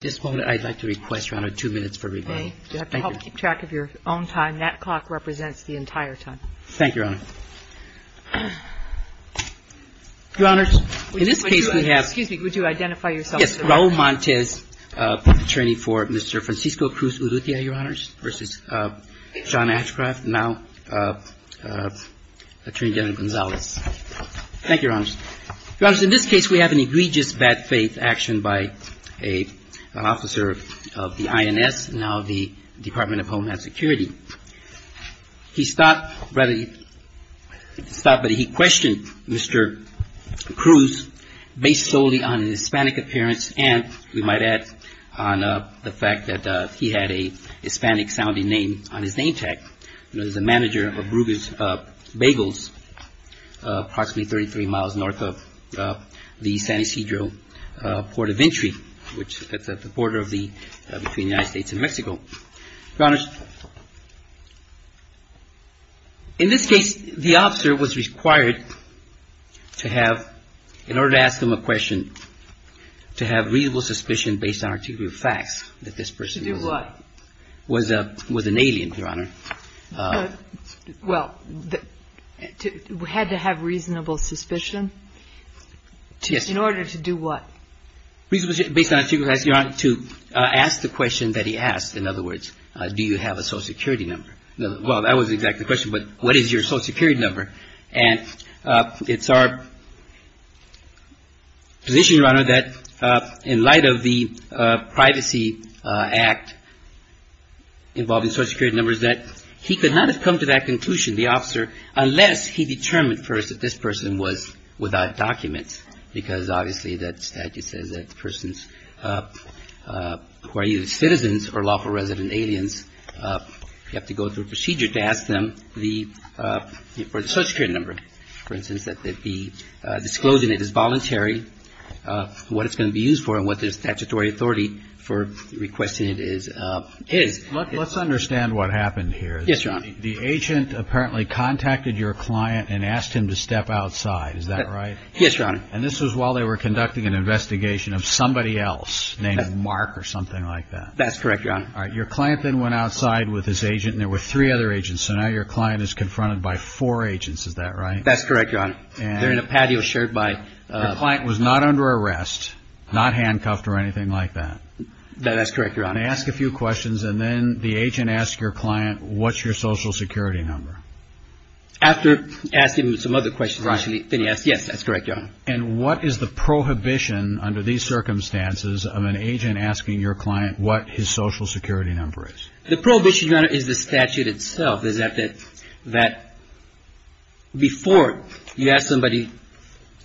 This moment, I'd like to request, Your Honor, two minutes for rebuttal. You have to help keep track of your own time. That clock represents the entire time. Thank you, Your Honor. Your Honors, in this case, we have Excuse me. Would you identify yourself, sir? Yes. Raul Montes, public attorney for Mr. Francisco Cruz-Urrutia, Your Honors, versus John Ashcroft, now Attorney General Gonzales. Thank you, Your Honors. Your Honors, in this case, we have an egregious bad faith action by an officer of the INS, now the Department of Homeland Security. He stopped, but he questioned Mr. Cruz based solely on his Hispanic appearance and, we might add, on the fact that he had a Hispanic-sounding name on his name tag. He was a manager of Bruges Bagels, approximately 33 miles north of the San Ysidro Port of Entry, which is at the border between the United States and Mexico. Your Honors, in this case, the officer was required to have, in order to ask him a question, to have reasonable suspicion based on articulate facts that this person was an alien, Your Honor. Well, had to have reasonable suspicion? Yes. In order to do what? Based on articulate facts, Your Honor, to ask the question that he asked. In other words, do you have a Social Security number? Well, that wasn't exactly the question, but what is your Social Security number? And it's our position, Your Honor, that in light of the Privacy Act involving Social Security numbers, that he could not have come to that conclusion, the officer, unless he determined first that this person was without documents. Because obviously that statute says that persons who are either citizens or lawful resident aliens, you have to go through a procedure to ask them for the Social Security number. For instance, that they be disclosing it as voluntary, what it's going to be used for, and what their statutory authority for requesting it is. Let's understand what happened here. Yes, Your Honor. The agent apparently contacted your client and asked him to step outside. Is that right? Yes, Your Honor. And this was while they were conducting an investigation of somebody else named Mark or something like that? That's correct, Your Honor. All right. Your client then went outside with his agent, and there were three other agents, so now your client is confronted by four agents. Is that right? That's correct, Your Honor. They're in a patio shirt by... Your client was not under arrest, not handcuffed or anything like that. That's correct, Your Honor. And they ask a few questions, and then the agent asks your client, what's your Social Security number? After asking him some other questions, then he asks, yes, that's correct, Your Honor. And what is the prohibition under these circumstances of an agent asking your client what his Social Security number is? The prohibition, Your Honor, is the statute itself, is that before you ask somebody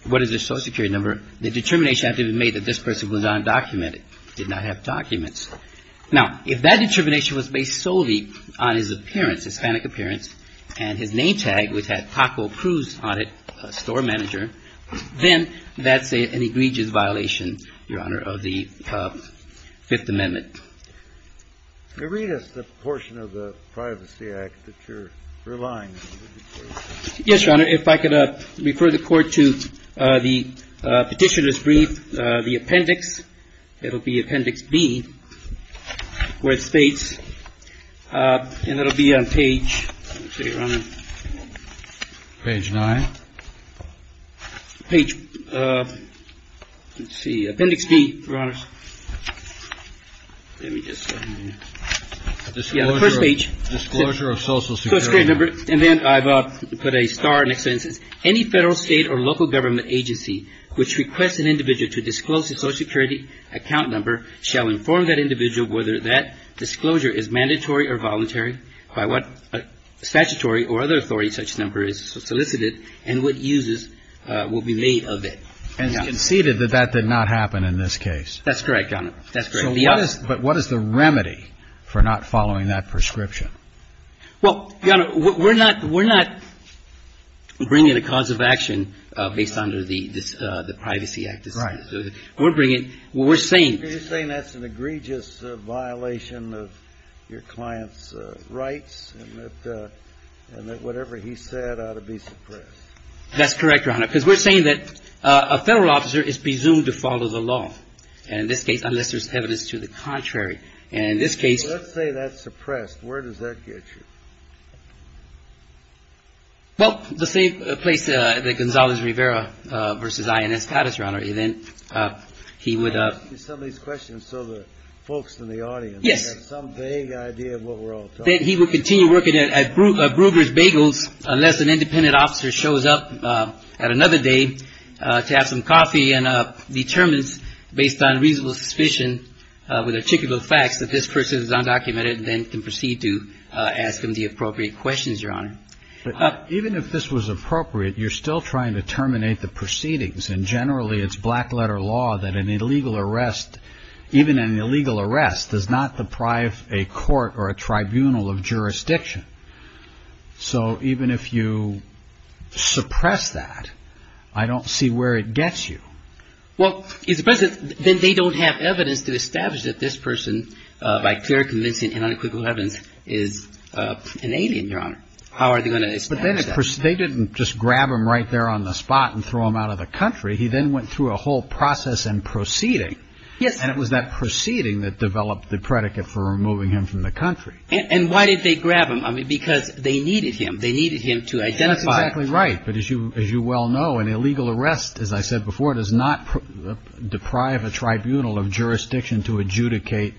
what is their Social Security number, the determination had to be made that this person was undocumented, did not have documents. Now, if that determination was based solely on his appearance, Hispanic appearance, and his name tag, which had Paco Cruz on it, a store manager, then that's an egregious violation, Your Honor, of the Fifth Amendment. Can you read us the portion of the Privacy Act that you're relying on? Yes, Your Honor. If I could refer the Court to the Petitioner's Brief, the appendix. It'll be Appendix B, where it states, and it'll be on page, let's see, Your Honor. Page 9. Page, let's see, Appendix B, Your Honor. Let me just, yeah, the first page. Disclosure of Social Security number. And then I've put a star next to it. And it says, any Federal, State, or local government agency which requests an individual to disclose a Social Security account number shall inform that individual whether that disclosure is mandatory or voluntary, by what statutory or other authority such number is solicited, and what uses will be made of it. And it's conceded that that did not happen in this case. That's correct, Your Honor. So what is the remedy for not following that prescription? Well, Your Honor, we're not bringing a cause of action based on the Privacy Act. Right. We're bringing, we're saying. You're saying that's an egregious violation of your client's rights, and that whatever he said ought to be suppressed. That's correct, Your Honor, because we're saying that a Federal officer is presumed to follow the law. And in this case, unless there's evidence to the contrary. And in this case. Let's say that's suppressed. Where does that get you? Well, the same place that Gonzalez-Rivera versus INS Patterson, Your Honor, and then he would. I'm asking some of these questions so the folks in the audience. Yes. Have some vague idea of what we're all talking about. Then he would continue working at Bruegger's Bagels unless an independent officer shows up at another day to have some coffee and determines, based on reasonable suspicion with articulable facts, that this person is undocumented and then can proceed to ask him the appropriate questions, Your Honor. Even if this was appropriate, you're still trying to terminate the proceedings. And generally it's black letter law that an illegal arrest, even an illegal arrest, does not deprive a court or a tribunal of jurisdiction. So even if you suppress that, I don't see where it gets you. Well, then they don't have evidence to establish that this person, by clear, convincing and unequivocal evidence, is an alien, Your Honor. How are they going to establish that? They didn't just grab him right there on the spot and throw him out of the country. He then went through a whole process and proceeding. Yes. And it was that proceeding that developed the predicate for removing him from the country. And why did they grab him? Because they needed him. They needed him to identify. That's exactly right. But as you well know, an illegal arrest, as I said before, does not deprive a tribunal of jurisdiction to adjudicate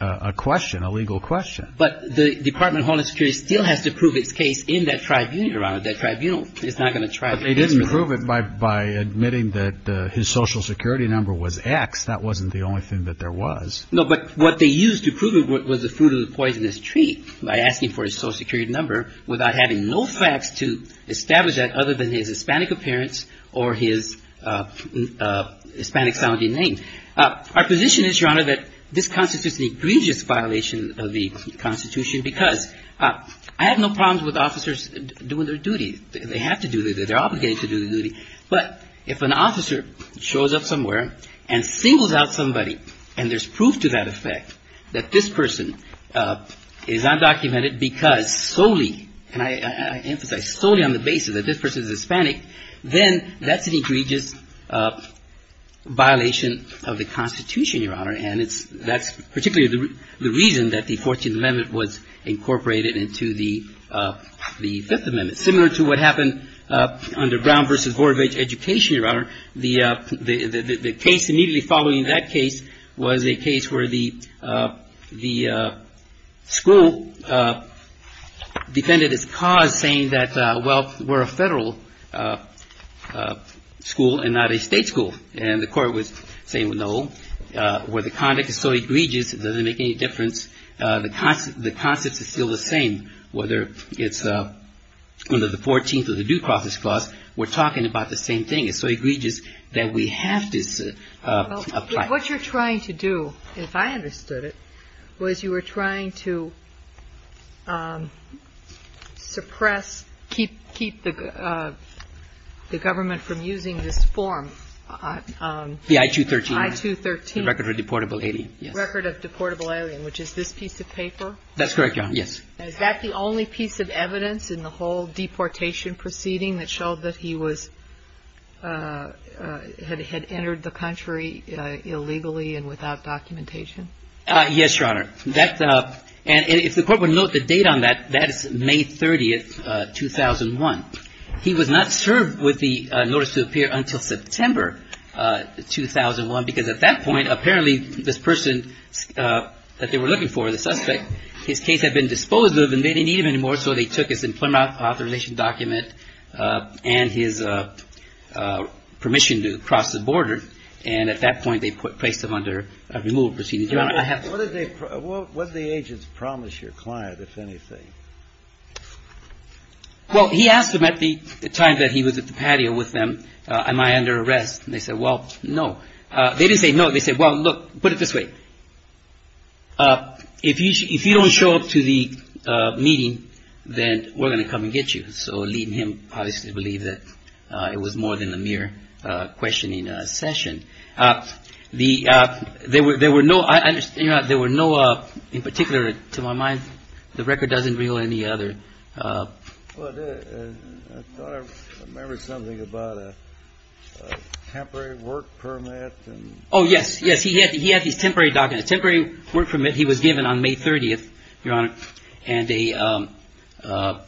a question, a legal question. But the Department of Homeland Security still has to prove its case in that tribunal, Your Honor. That tribunal is not going to try to answer that. But they didn't prove it by admitting that his Social Security number was X. That wasn't the only thing that there was. No, but what they used to prove it was the fruit of the poisonous tree by asking for his Social Security number without having no facts to establish that other than his Hispanic appearance or his Hispanic-sounding name. Our position is, Your Honor, that this Constitution is an egregious violation of the Constitution because I have no problems with officers doing their duty. They have to do their duty. They're obligated to do their duty. But if an officer shows up somewhere and singles out somebody and there's proof to that effect that this person is undocumented because solely and I emphasize solely on the basis that this person is Hispanic, then that's an egregious violation of the Constitution, Your Honor. And that's particularly the reason that the Fourteenth Amendment was incorporated into the Fifth Amendment. Similar to what happened under Brown v. Vorevich education, Your Honor, the case immediately following that case was a case where the school defended its cause saying that, well, we're a federal school and not a state school. And the court was saying, well, no, where the conduct is so egregious, it doesn't make any difference. The concept is still the same, whether it's under the Fourteenth or the Due Process Clause, we're talking about the same thing. It's so egregious that we have to apply it. Well, what you're trying to do, if I understood it, was you were trying to suppress, keep the government from using this form. The I-213. The I-213. The Record of Deportable Alien. The Record of Deportable Alien, which is this piece of paper. That's correct, Your Honor. Is that the only piece of evidence in the whole deportation proceeding that showed that he had entered the country illegally and without documentation? Yes, Your Honor. And if the court would note the date on that, that is May 30th, 2001. He was not served with the notice to appear until September 2001, because at that point, apparently, this person that they were looking for, the suspect, his case had been disposed of and they didn't need him anymore, so they took his employment authorization document and his permission to cross the border. And at that point, they placed him under a removal proceeding. Your Honor, I have to say this. What did the agents promise your client, if anything? Well, he asked them at the time that he was at the patio with them, am I under arrest? And they said, well, no. They didn't say no. They said, well, look, put it this way. If you don't show up to the meeting, then we're going to come and get you. So leading him, obviously, to believe that it was more than a mere questioning session. There were no, in particular, to my mind, the record doesn't reveal any other. I thought I remembered something about a temporary work permit. Oh, yes. Yes, he had these temporary documents. Temporary work permit, he was given on May 30th, Your Honor, and a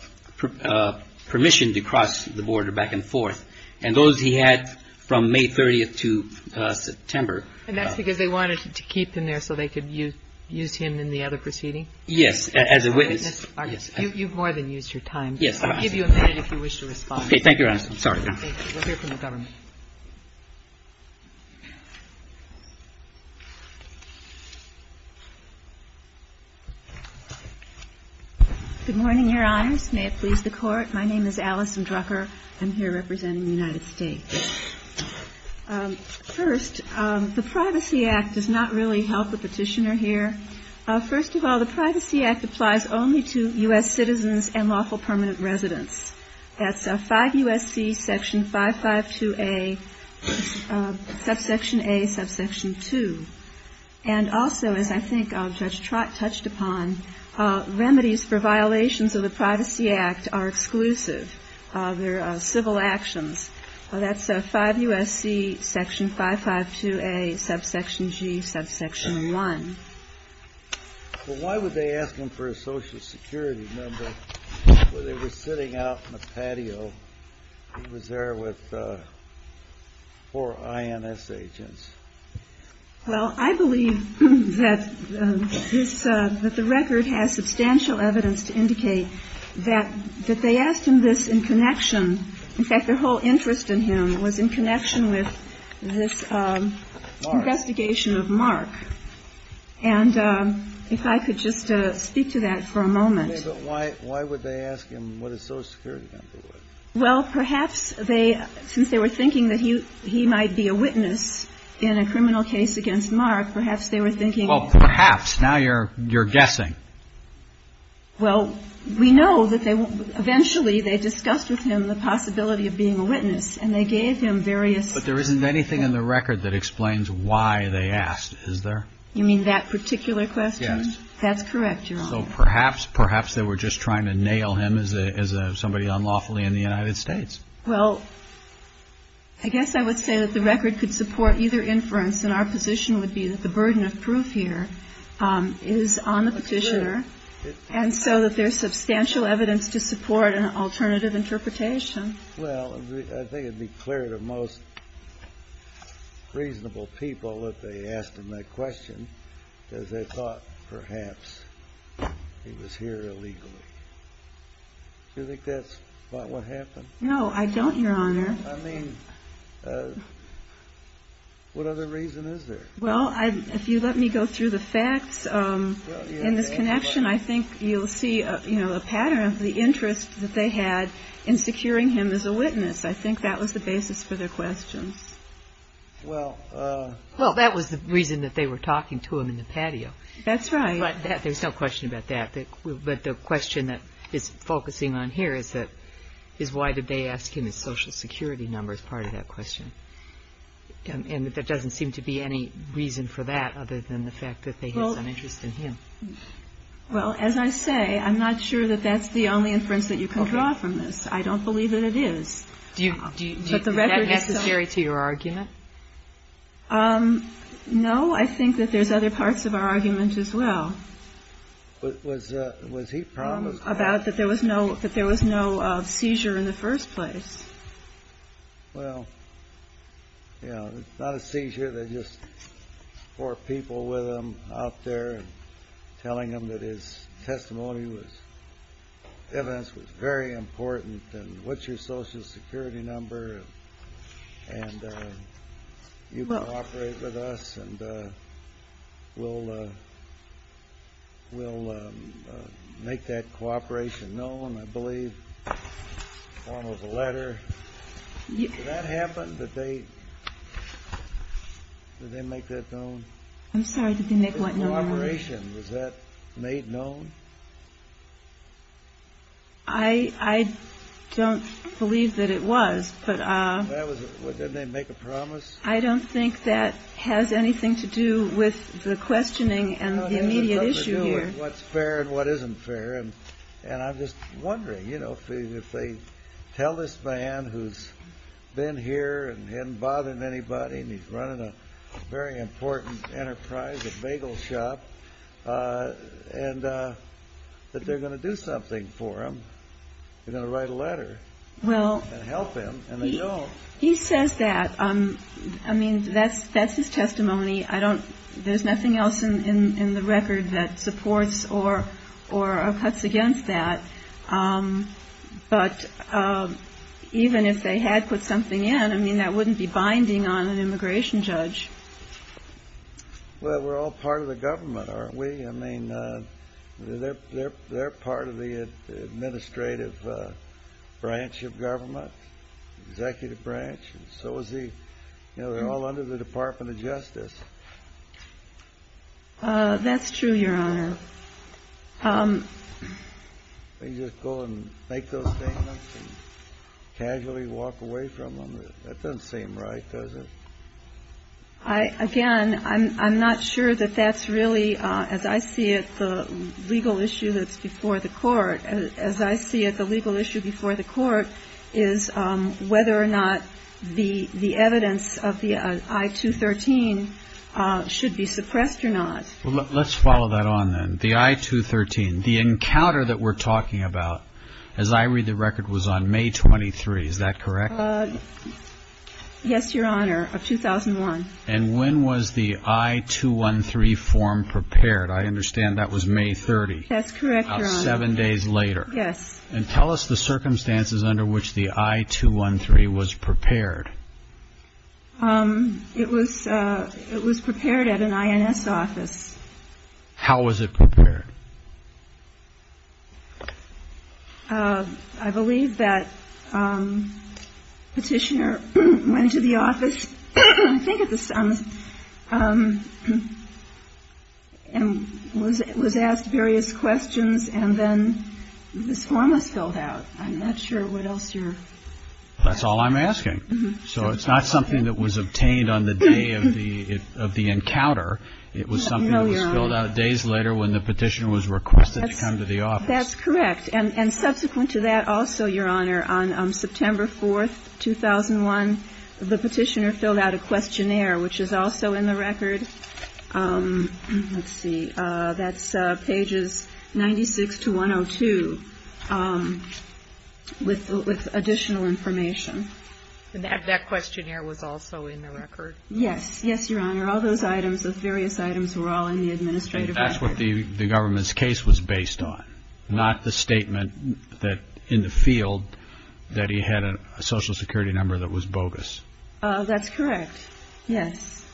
permission to cross the border back and forth. And those he had from May 30th to September. And that's because they wanted to keep him there so they could use him in the other proceeding? Yes. As a witness. You've more than used your time. Yes. I'll give you a minute if you wish to respond. Okay. Thank you, Your Honor. I'm sorry. Thank you. We'll hear from the government. Good morning, Your Honors. May it please the Court. My name is Alison Drucker. I'm here representing the United States. First, the Privacy Act does not really help the petitioner here. First of all, the Privacy Act applies only to U.S. citizens and lawful permanent residents. That's 5 U.S.C. section 552A, subsection A, subsection 2. And also, as I think Judge Trott touched upon, remedies for violations of the Privacy Act are exclusive. They're civil actions. That's 5 U.S.C. section 552A, subsection G, subsection 1. Well, why would they ask him for a Social Security number when they were sitting out on a patio? He was there with four INS agents. Well, I believe that this, that the record has substantial evidence to indicate that they asked him this in connection. In fact, their whole interest in him was in connection with this investigation of Mark. And if I could just speak to that for a moment. Okay. But why would they ask him what a Social Security number was? Well, perhaps they, since they were thinking that he might be a witness in a criminal case against Mark, perhaps they were thinking. Well, perhaps. Now you're guessing. Well, we know that eventually they discussed with him the possibility of being a witness, and they gave him various. But there isn't anything in the record that explains why they asked, is there? You mean that particular question? That's correct, Your Honor. So perhaps, perhaps they were just trying to nail him as somebody unlawfully in the United States. Well, I guess I would say that the record could support either inference, and our position would be that the burden of proof here is on the Petitioner, and so that there's substantial evidence to support an alternative interpretation. Well, I think it would be clear to most reasonable people that they asked him that question because they thought perhaps he was here illegally. Do you think that's about what happened? No, I don't, Your Honor. I mean, what other reason is there? Well, if you let me go through the facts in this connection, I think you'll see a pattern of the interest that they had in securing him as a witness. I think that was the basis for their questions. Well, that was the reason that they were talking to him in the patio. That's right. But there's no question about that. But the question that is focusing on here is why did they ask him his Social Security number as part of that question? And there doesn't seem to be any reason for that other than the fact that they had some interest in him. Well, as I say, I'm not sure that that's the only inference that you can draw from this. I don't believe that it is. Is that necessary to your argument? No, I think that there's other parts of our argument as well. Was he promised? About that there was no seizure in the first place. Well, you know, not a seizure. They just brought people with them out there and telling them that his testimony was evidence was very important and what's your Social Security number and you can operate with us and we'll make that cooperation known. I believe one was a letter. Did that happen? Did they make that known? I'm sorry, did they make what known? The cooperation, was that made known? I don't believe that it was. But didn't they make a promise? I don't think that has anything to do with the questioning and the immediate issue here. What's fair and what isn't fair. And I'm just wondering, you know, if they tell this man who's been here and hadn't bothered anybody and he's running a very important enterprise, a bagel shop. And that they're going to do something for him. They're going to write a letter and help him. He says that. I mean, that's his testimony. There's nothing else in the record that supports or cuts against that. But even if they had put something in, I mean, that wouldn't be binding on an immigration judge. Well, we're all part of the government, aren't we? I mean, they're part of the administrative branch of government, executive branch. And so is the, you know, they're all under the Department of Justice. That's true, Your Honor. Can you just go and make those statements and casually walk away from them? That doesn't seem right, does it? Again, I'm not sure that that's really, as I see it, the legal issue that's before the court. As I see it, the legal issue before the court is whether or not the evidence of the I-213 should be suppressed or not. Well, let's follow that on then. The I-213, the encounter that we're talking about, as I read the record, was on May 23. Is that correct? Yes, Your Honor, of 2001. And when was the I-213 form prepared? I understand that was May 30. That's correct, Your Honor. About seven days later. Yes. And tell us the circumstances under which the I-213 was prepared. It was prepared at an INS office. How was it prepared? I believe that Petitioner went into the office, I think at the summons, and was asked various questions, and then this form was filled out. I'm not sure what else you're... That's all I'm asking. So it's not something that was obtained on the day of the encounter. No, Your Honor. It was something that was filled out days later when the Petitioner was requested to come to the office. That's correct. And subsequent to that also, Your Honor, on September 4, 2001, the Petitioner filled out a questionnaire, which is also in the record. Let's see. That's pages 96 to 102 with additional information. And that questionnaire was also in the record? Yes. Yes, Your Honor. All those items, those various items, were all in the administrative record. That's what the government's case was based on, not the statement in the field that he had a Social Security number that was bogus. That's correct, yes.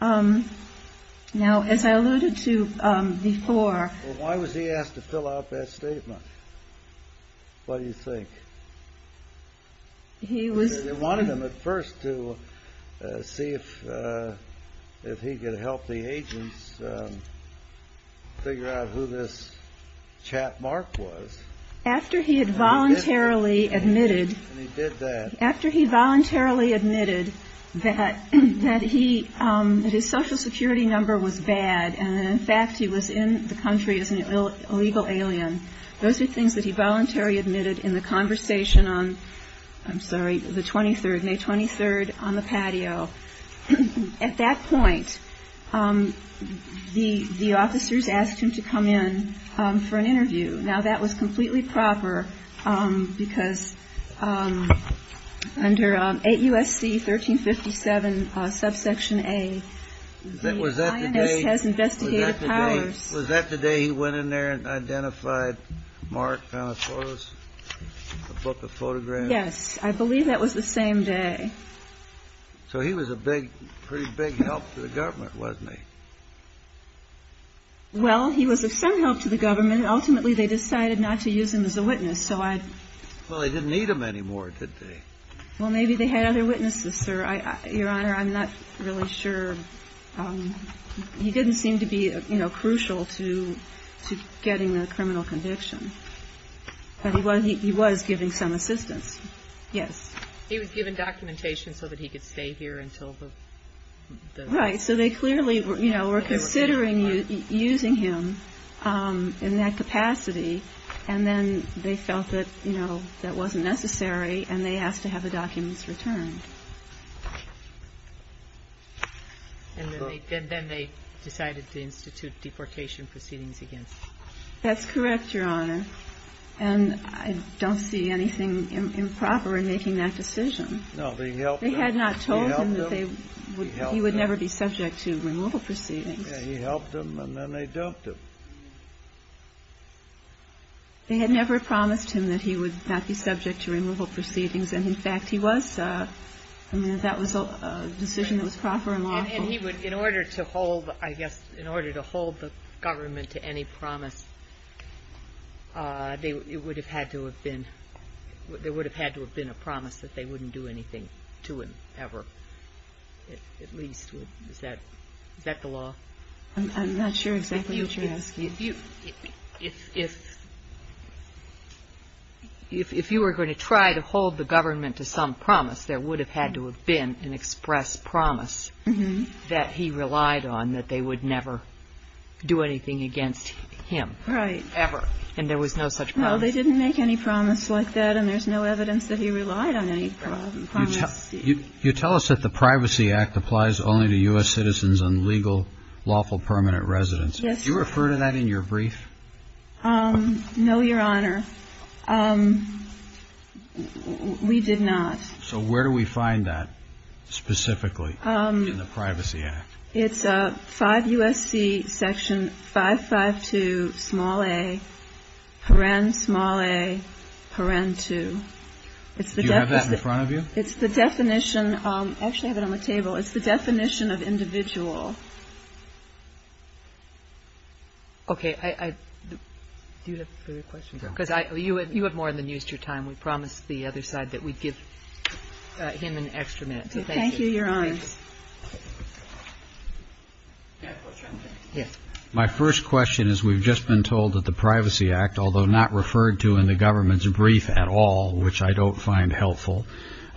Now, as I alluded to before... Well, why was he asked to fill out that statement? What do you think? He was... They wanted him at first to see if he could help the agents figure out who this chap Mark was. After he had voluntarily admitted... And he did that. After he voluntarily admitted that his Social Security number was bad and, in fact, he was in the country as an illegal alien, those are things that he voluntarily admitted in the conversation on, I'm sorry, the 23rd, May 23rd, on the patio. At that point, the officers asked him to come in for an interview. Now, that was completely proper because under 8 U.S.C. 1357, subsection A, the INS has investigative powers. Was that the day he went in there and identified Mark, found the photos, the book of photographs? Yes. I believe that was the same day. So he was a big, pretty big help to the government, wasn't he? Well, he was of some help to the government. Ultimately, they decided not to use him as a witness, so I... Well, they didn't need him anymore, did they? Well, maybe they had other witnesses, sir. Your Honor, I'm not really sure. He didn't seem to be, you know, crucial to getting the criminal conviction. But he was giving some assistance. Yes. He was given documentation so that he could stay here until the... Right. So they clearly, you know, were considering using him in that capacity, and then they felt that, you know, that wasn't necessary, and they asked to have the documents returned. And then they decided to institute deportation proceedings against him. That's correct, Your Honor. And I don't see anything improper in making that decision. No, they helped him. They told him that he would never be subject to removal proceedings. Yeah, he helped them, and then they dumped him. They had never promised him that he would not be subject to removal proceedings, and, in fact, he was. I mean, that was a decision that was proper and lawful. And he would, in order to hold, I guess, in order to hold the government to any promise, it would have had to have been a promise that they wouldn't do anything to him ever, at least. Is that the law? I'm not sure exactly what you're asking. If you were going to try to hold the government to some promise, there would have had to have been an express promise that he relied on, that they would never do anything against him ever, and there was no such promise. No, they didn't make any promise like that, and there's no evidence that he relied on any promise. You tell us that the Privacy Act applies only to U.S. citizens and legal, lawful, permanent residents. Yes. Do you refer to that in your brief? No, Your Honor. We did not. So where do we find that specifically in the Privacy Act? It's 5 U.S.C. section 552, small a, paren, small a, paren 2. Do you have that in front of you? It's the definition. I actually have it on my table. It's the definition of individual. Okay. Do you have a further question? Because you have more than used your time. We promised the other side that we'd give him an extra minute, so thank you. Thank you, Your Honor. My first question is we've just been told that the Privacy Act, although not referred to in the government's brief at all, which I don't find helpful,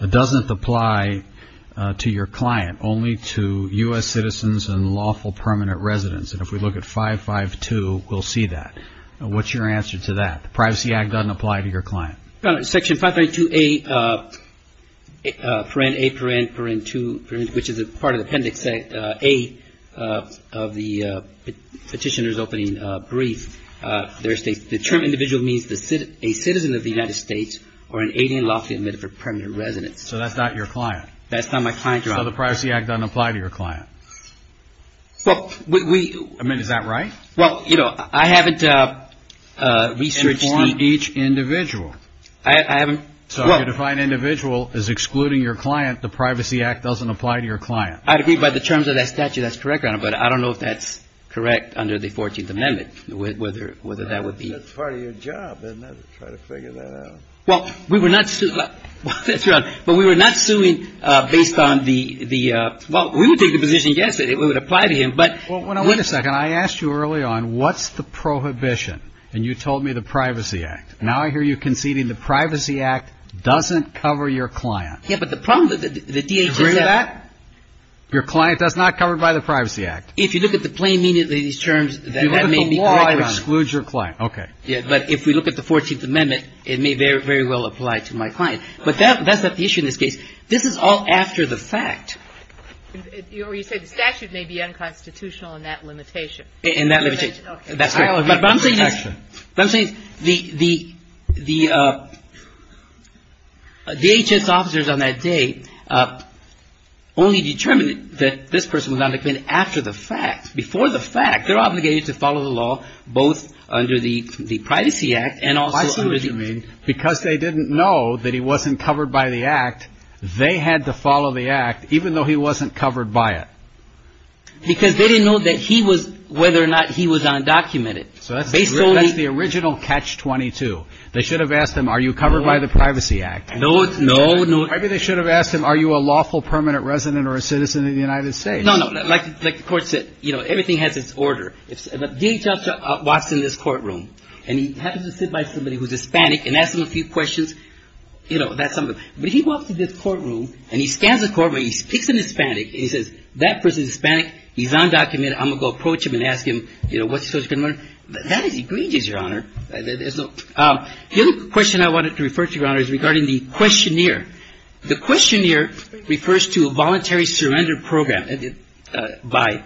doesn't apply to your client, only to U.S. citizens and lawful, permanent residents. And if we look at 552, we'll see that. What's your answer to that? Privacy Act doesn't apply to your client. Section 532, a, paren, a, paren, paren 2, which is a part of the appendix, a of the petitioner's opening brief, the term individual means a citizen of the United States or an alien lawfully admitted for permanent residence. So that's not your client? That's not my client, Your Honor. So the Privacy Act doesn't apply to your client? I mean, is that right? Well, you know, I haven't researched the ---- You inform each individual. I haven't ---- So you define individual as excluding your client. The Privacy Act doesn't apply to your client. I'd agree by the terms of that statute that's correct, Your Honor, but I don't know if that's correct under the 14th Amendment, whether that would be ---- That's part of your job, isn't it, to try to figure that out? Well, we were not suing ---- But we were not suing based on the ---- Well, we would take the position, yes, that it would apply to him, but ---- Well, wait a second. I asked you early on what's the prohibition, and you told me the Privacy Act. Now I hear you conceding the Privacy Act doesn't cover your client. Yes, but the problem with the DHS ---- Do you agree with that? Your client does not cover by the Privacy Act. If you look at the plain meaning of these terms, that may be correct, Your Honor. If you look at the law, it excludes your client. Okay. Yes, but if we look at the 14th Amendment, it may very well apply to my client. But that's not the issue in this case. This is all after the fact. Or you say the statute may be unconstitutional in that limitation. In that limitation. Okay. But I'm saying the DHS officers on that day only determined that this person was on the claim after the fact, before the fact. They're obligated to follow the law both under the Privacy Act and also under the ---- Even though he wasn't covered by it. Because they didn't know that he was, whether or not he was undocumented. So that's the original catch-22. They should have asked him, are you covered by the Privacy Act? No, no, no. Maybe they should have asked him, are you a lawful permanent resident or a citizen of the United States? No, no. Like the Court said, you know, everything has its order. The DHS officer walks in this courtroom and he happens to sit by somebody who's Hispanic and asks him a few questions. You know, that's something. But he walks into this courtroom and he stands in the courtroom and he speaks in Hispanic and he says, that person is Hispanic, he's undocumented, I'm going to go approach him and ask him, you know, what's he supposed to learn? That is egregious, Your Honor. The other question I wanted to refer to, Your Honor, is regarding the questionnaire. The questionnaire refers to a voluntary surrender program by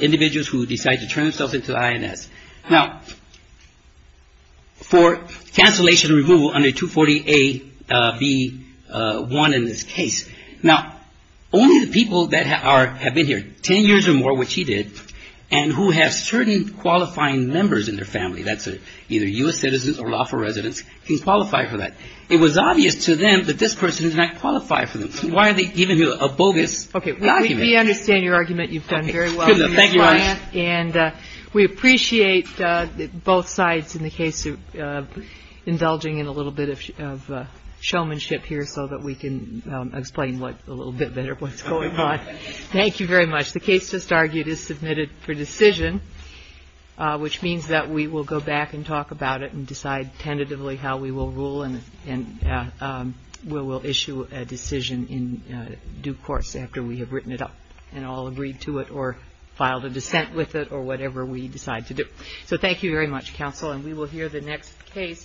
individuals who decide to turn themselves into the INS. Now, for cancellation and removal under 240-A-B-1 in this case, now, only the people that have been here ten years or more, which he did, and who have certain qualifying members in their family, that's either U.S. citizens or lawful residents, can qualify for that. It was obvious to them that this person did not qualify for them. So why are they giving you a bogus document? Okay. We understand your argument. You've done very well. Thank you, Your Honor. And we appreciate both sides in the case indulging in a little bit of showmanship here so that we can explain a little bit better what's going on. Thank you very much. The case just argued is submitted for decision, which means that we will go back and talk about it and decide tentatively how we will rule and we will issue a decision in due course after we have written it up and all agreed to it or filed a dissent with it or whatever we decide to do. So thank you very much, Counsel. And we will hear the next case,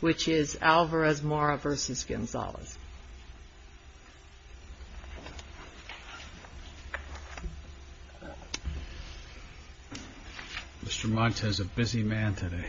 which is Alvarez-Mora v. Gonzalez. Mr. Montes, a busy man today.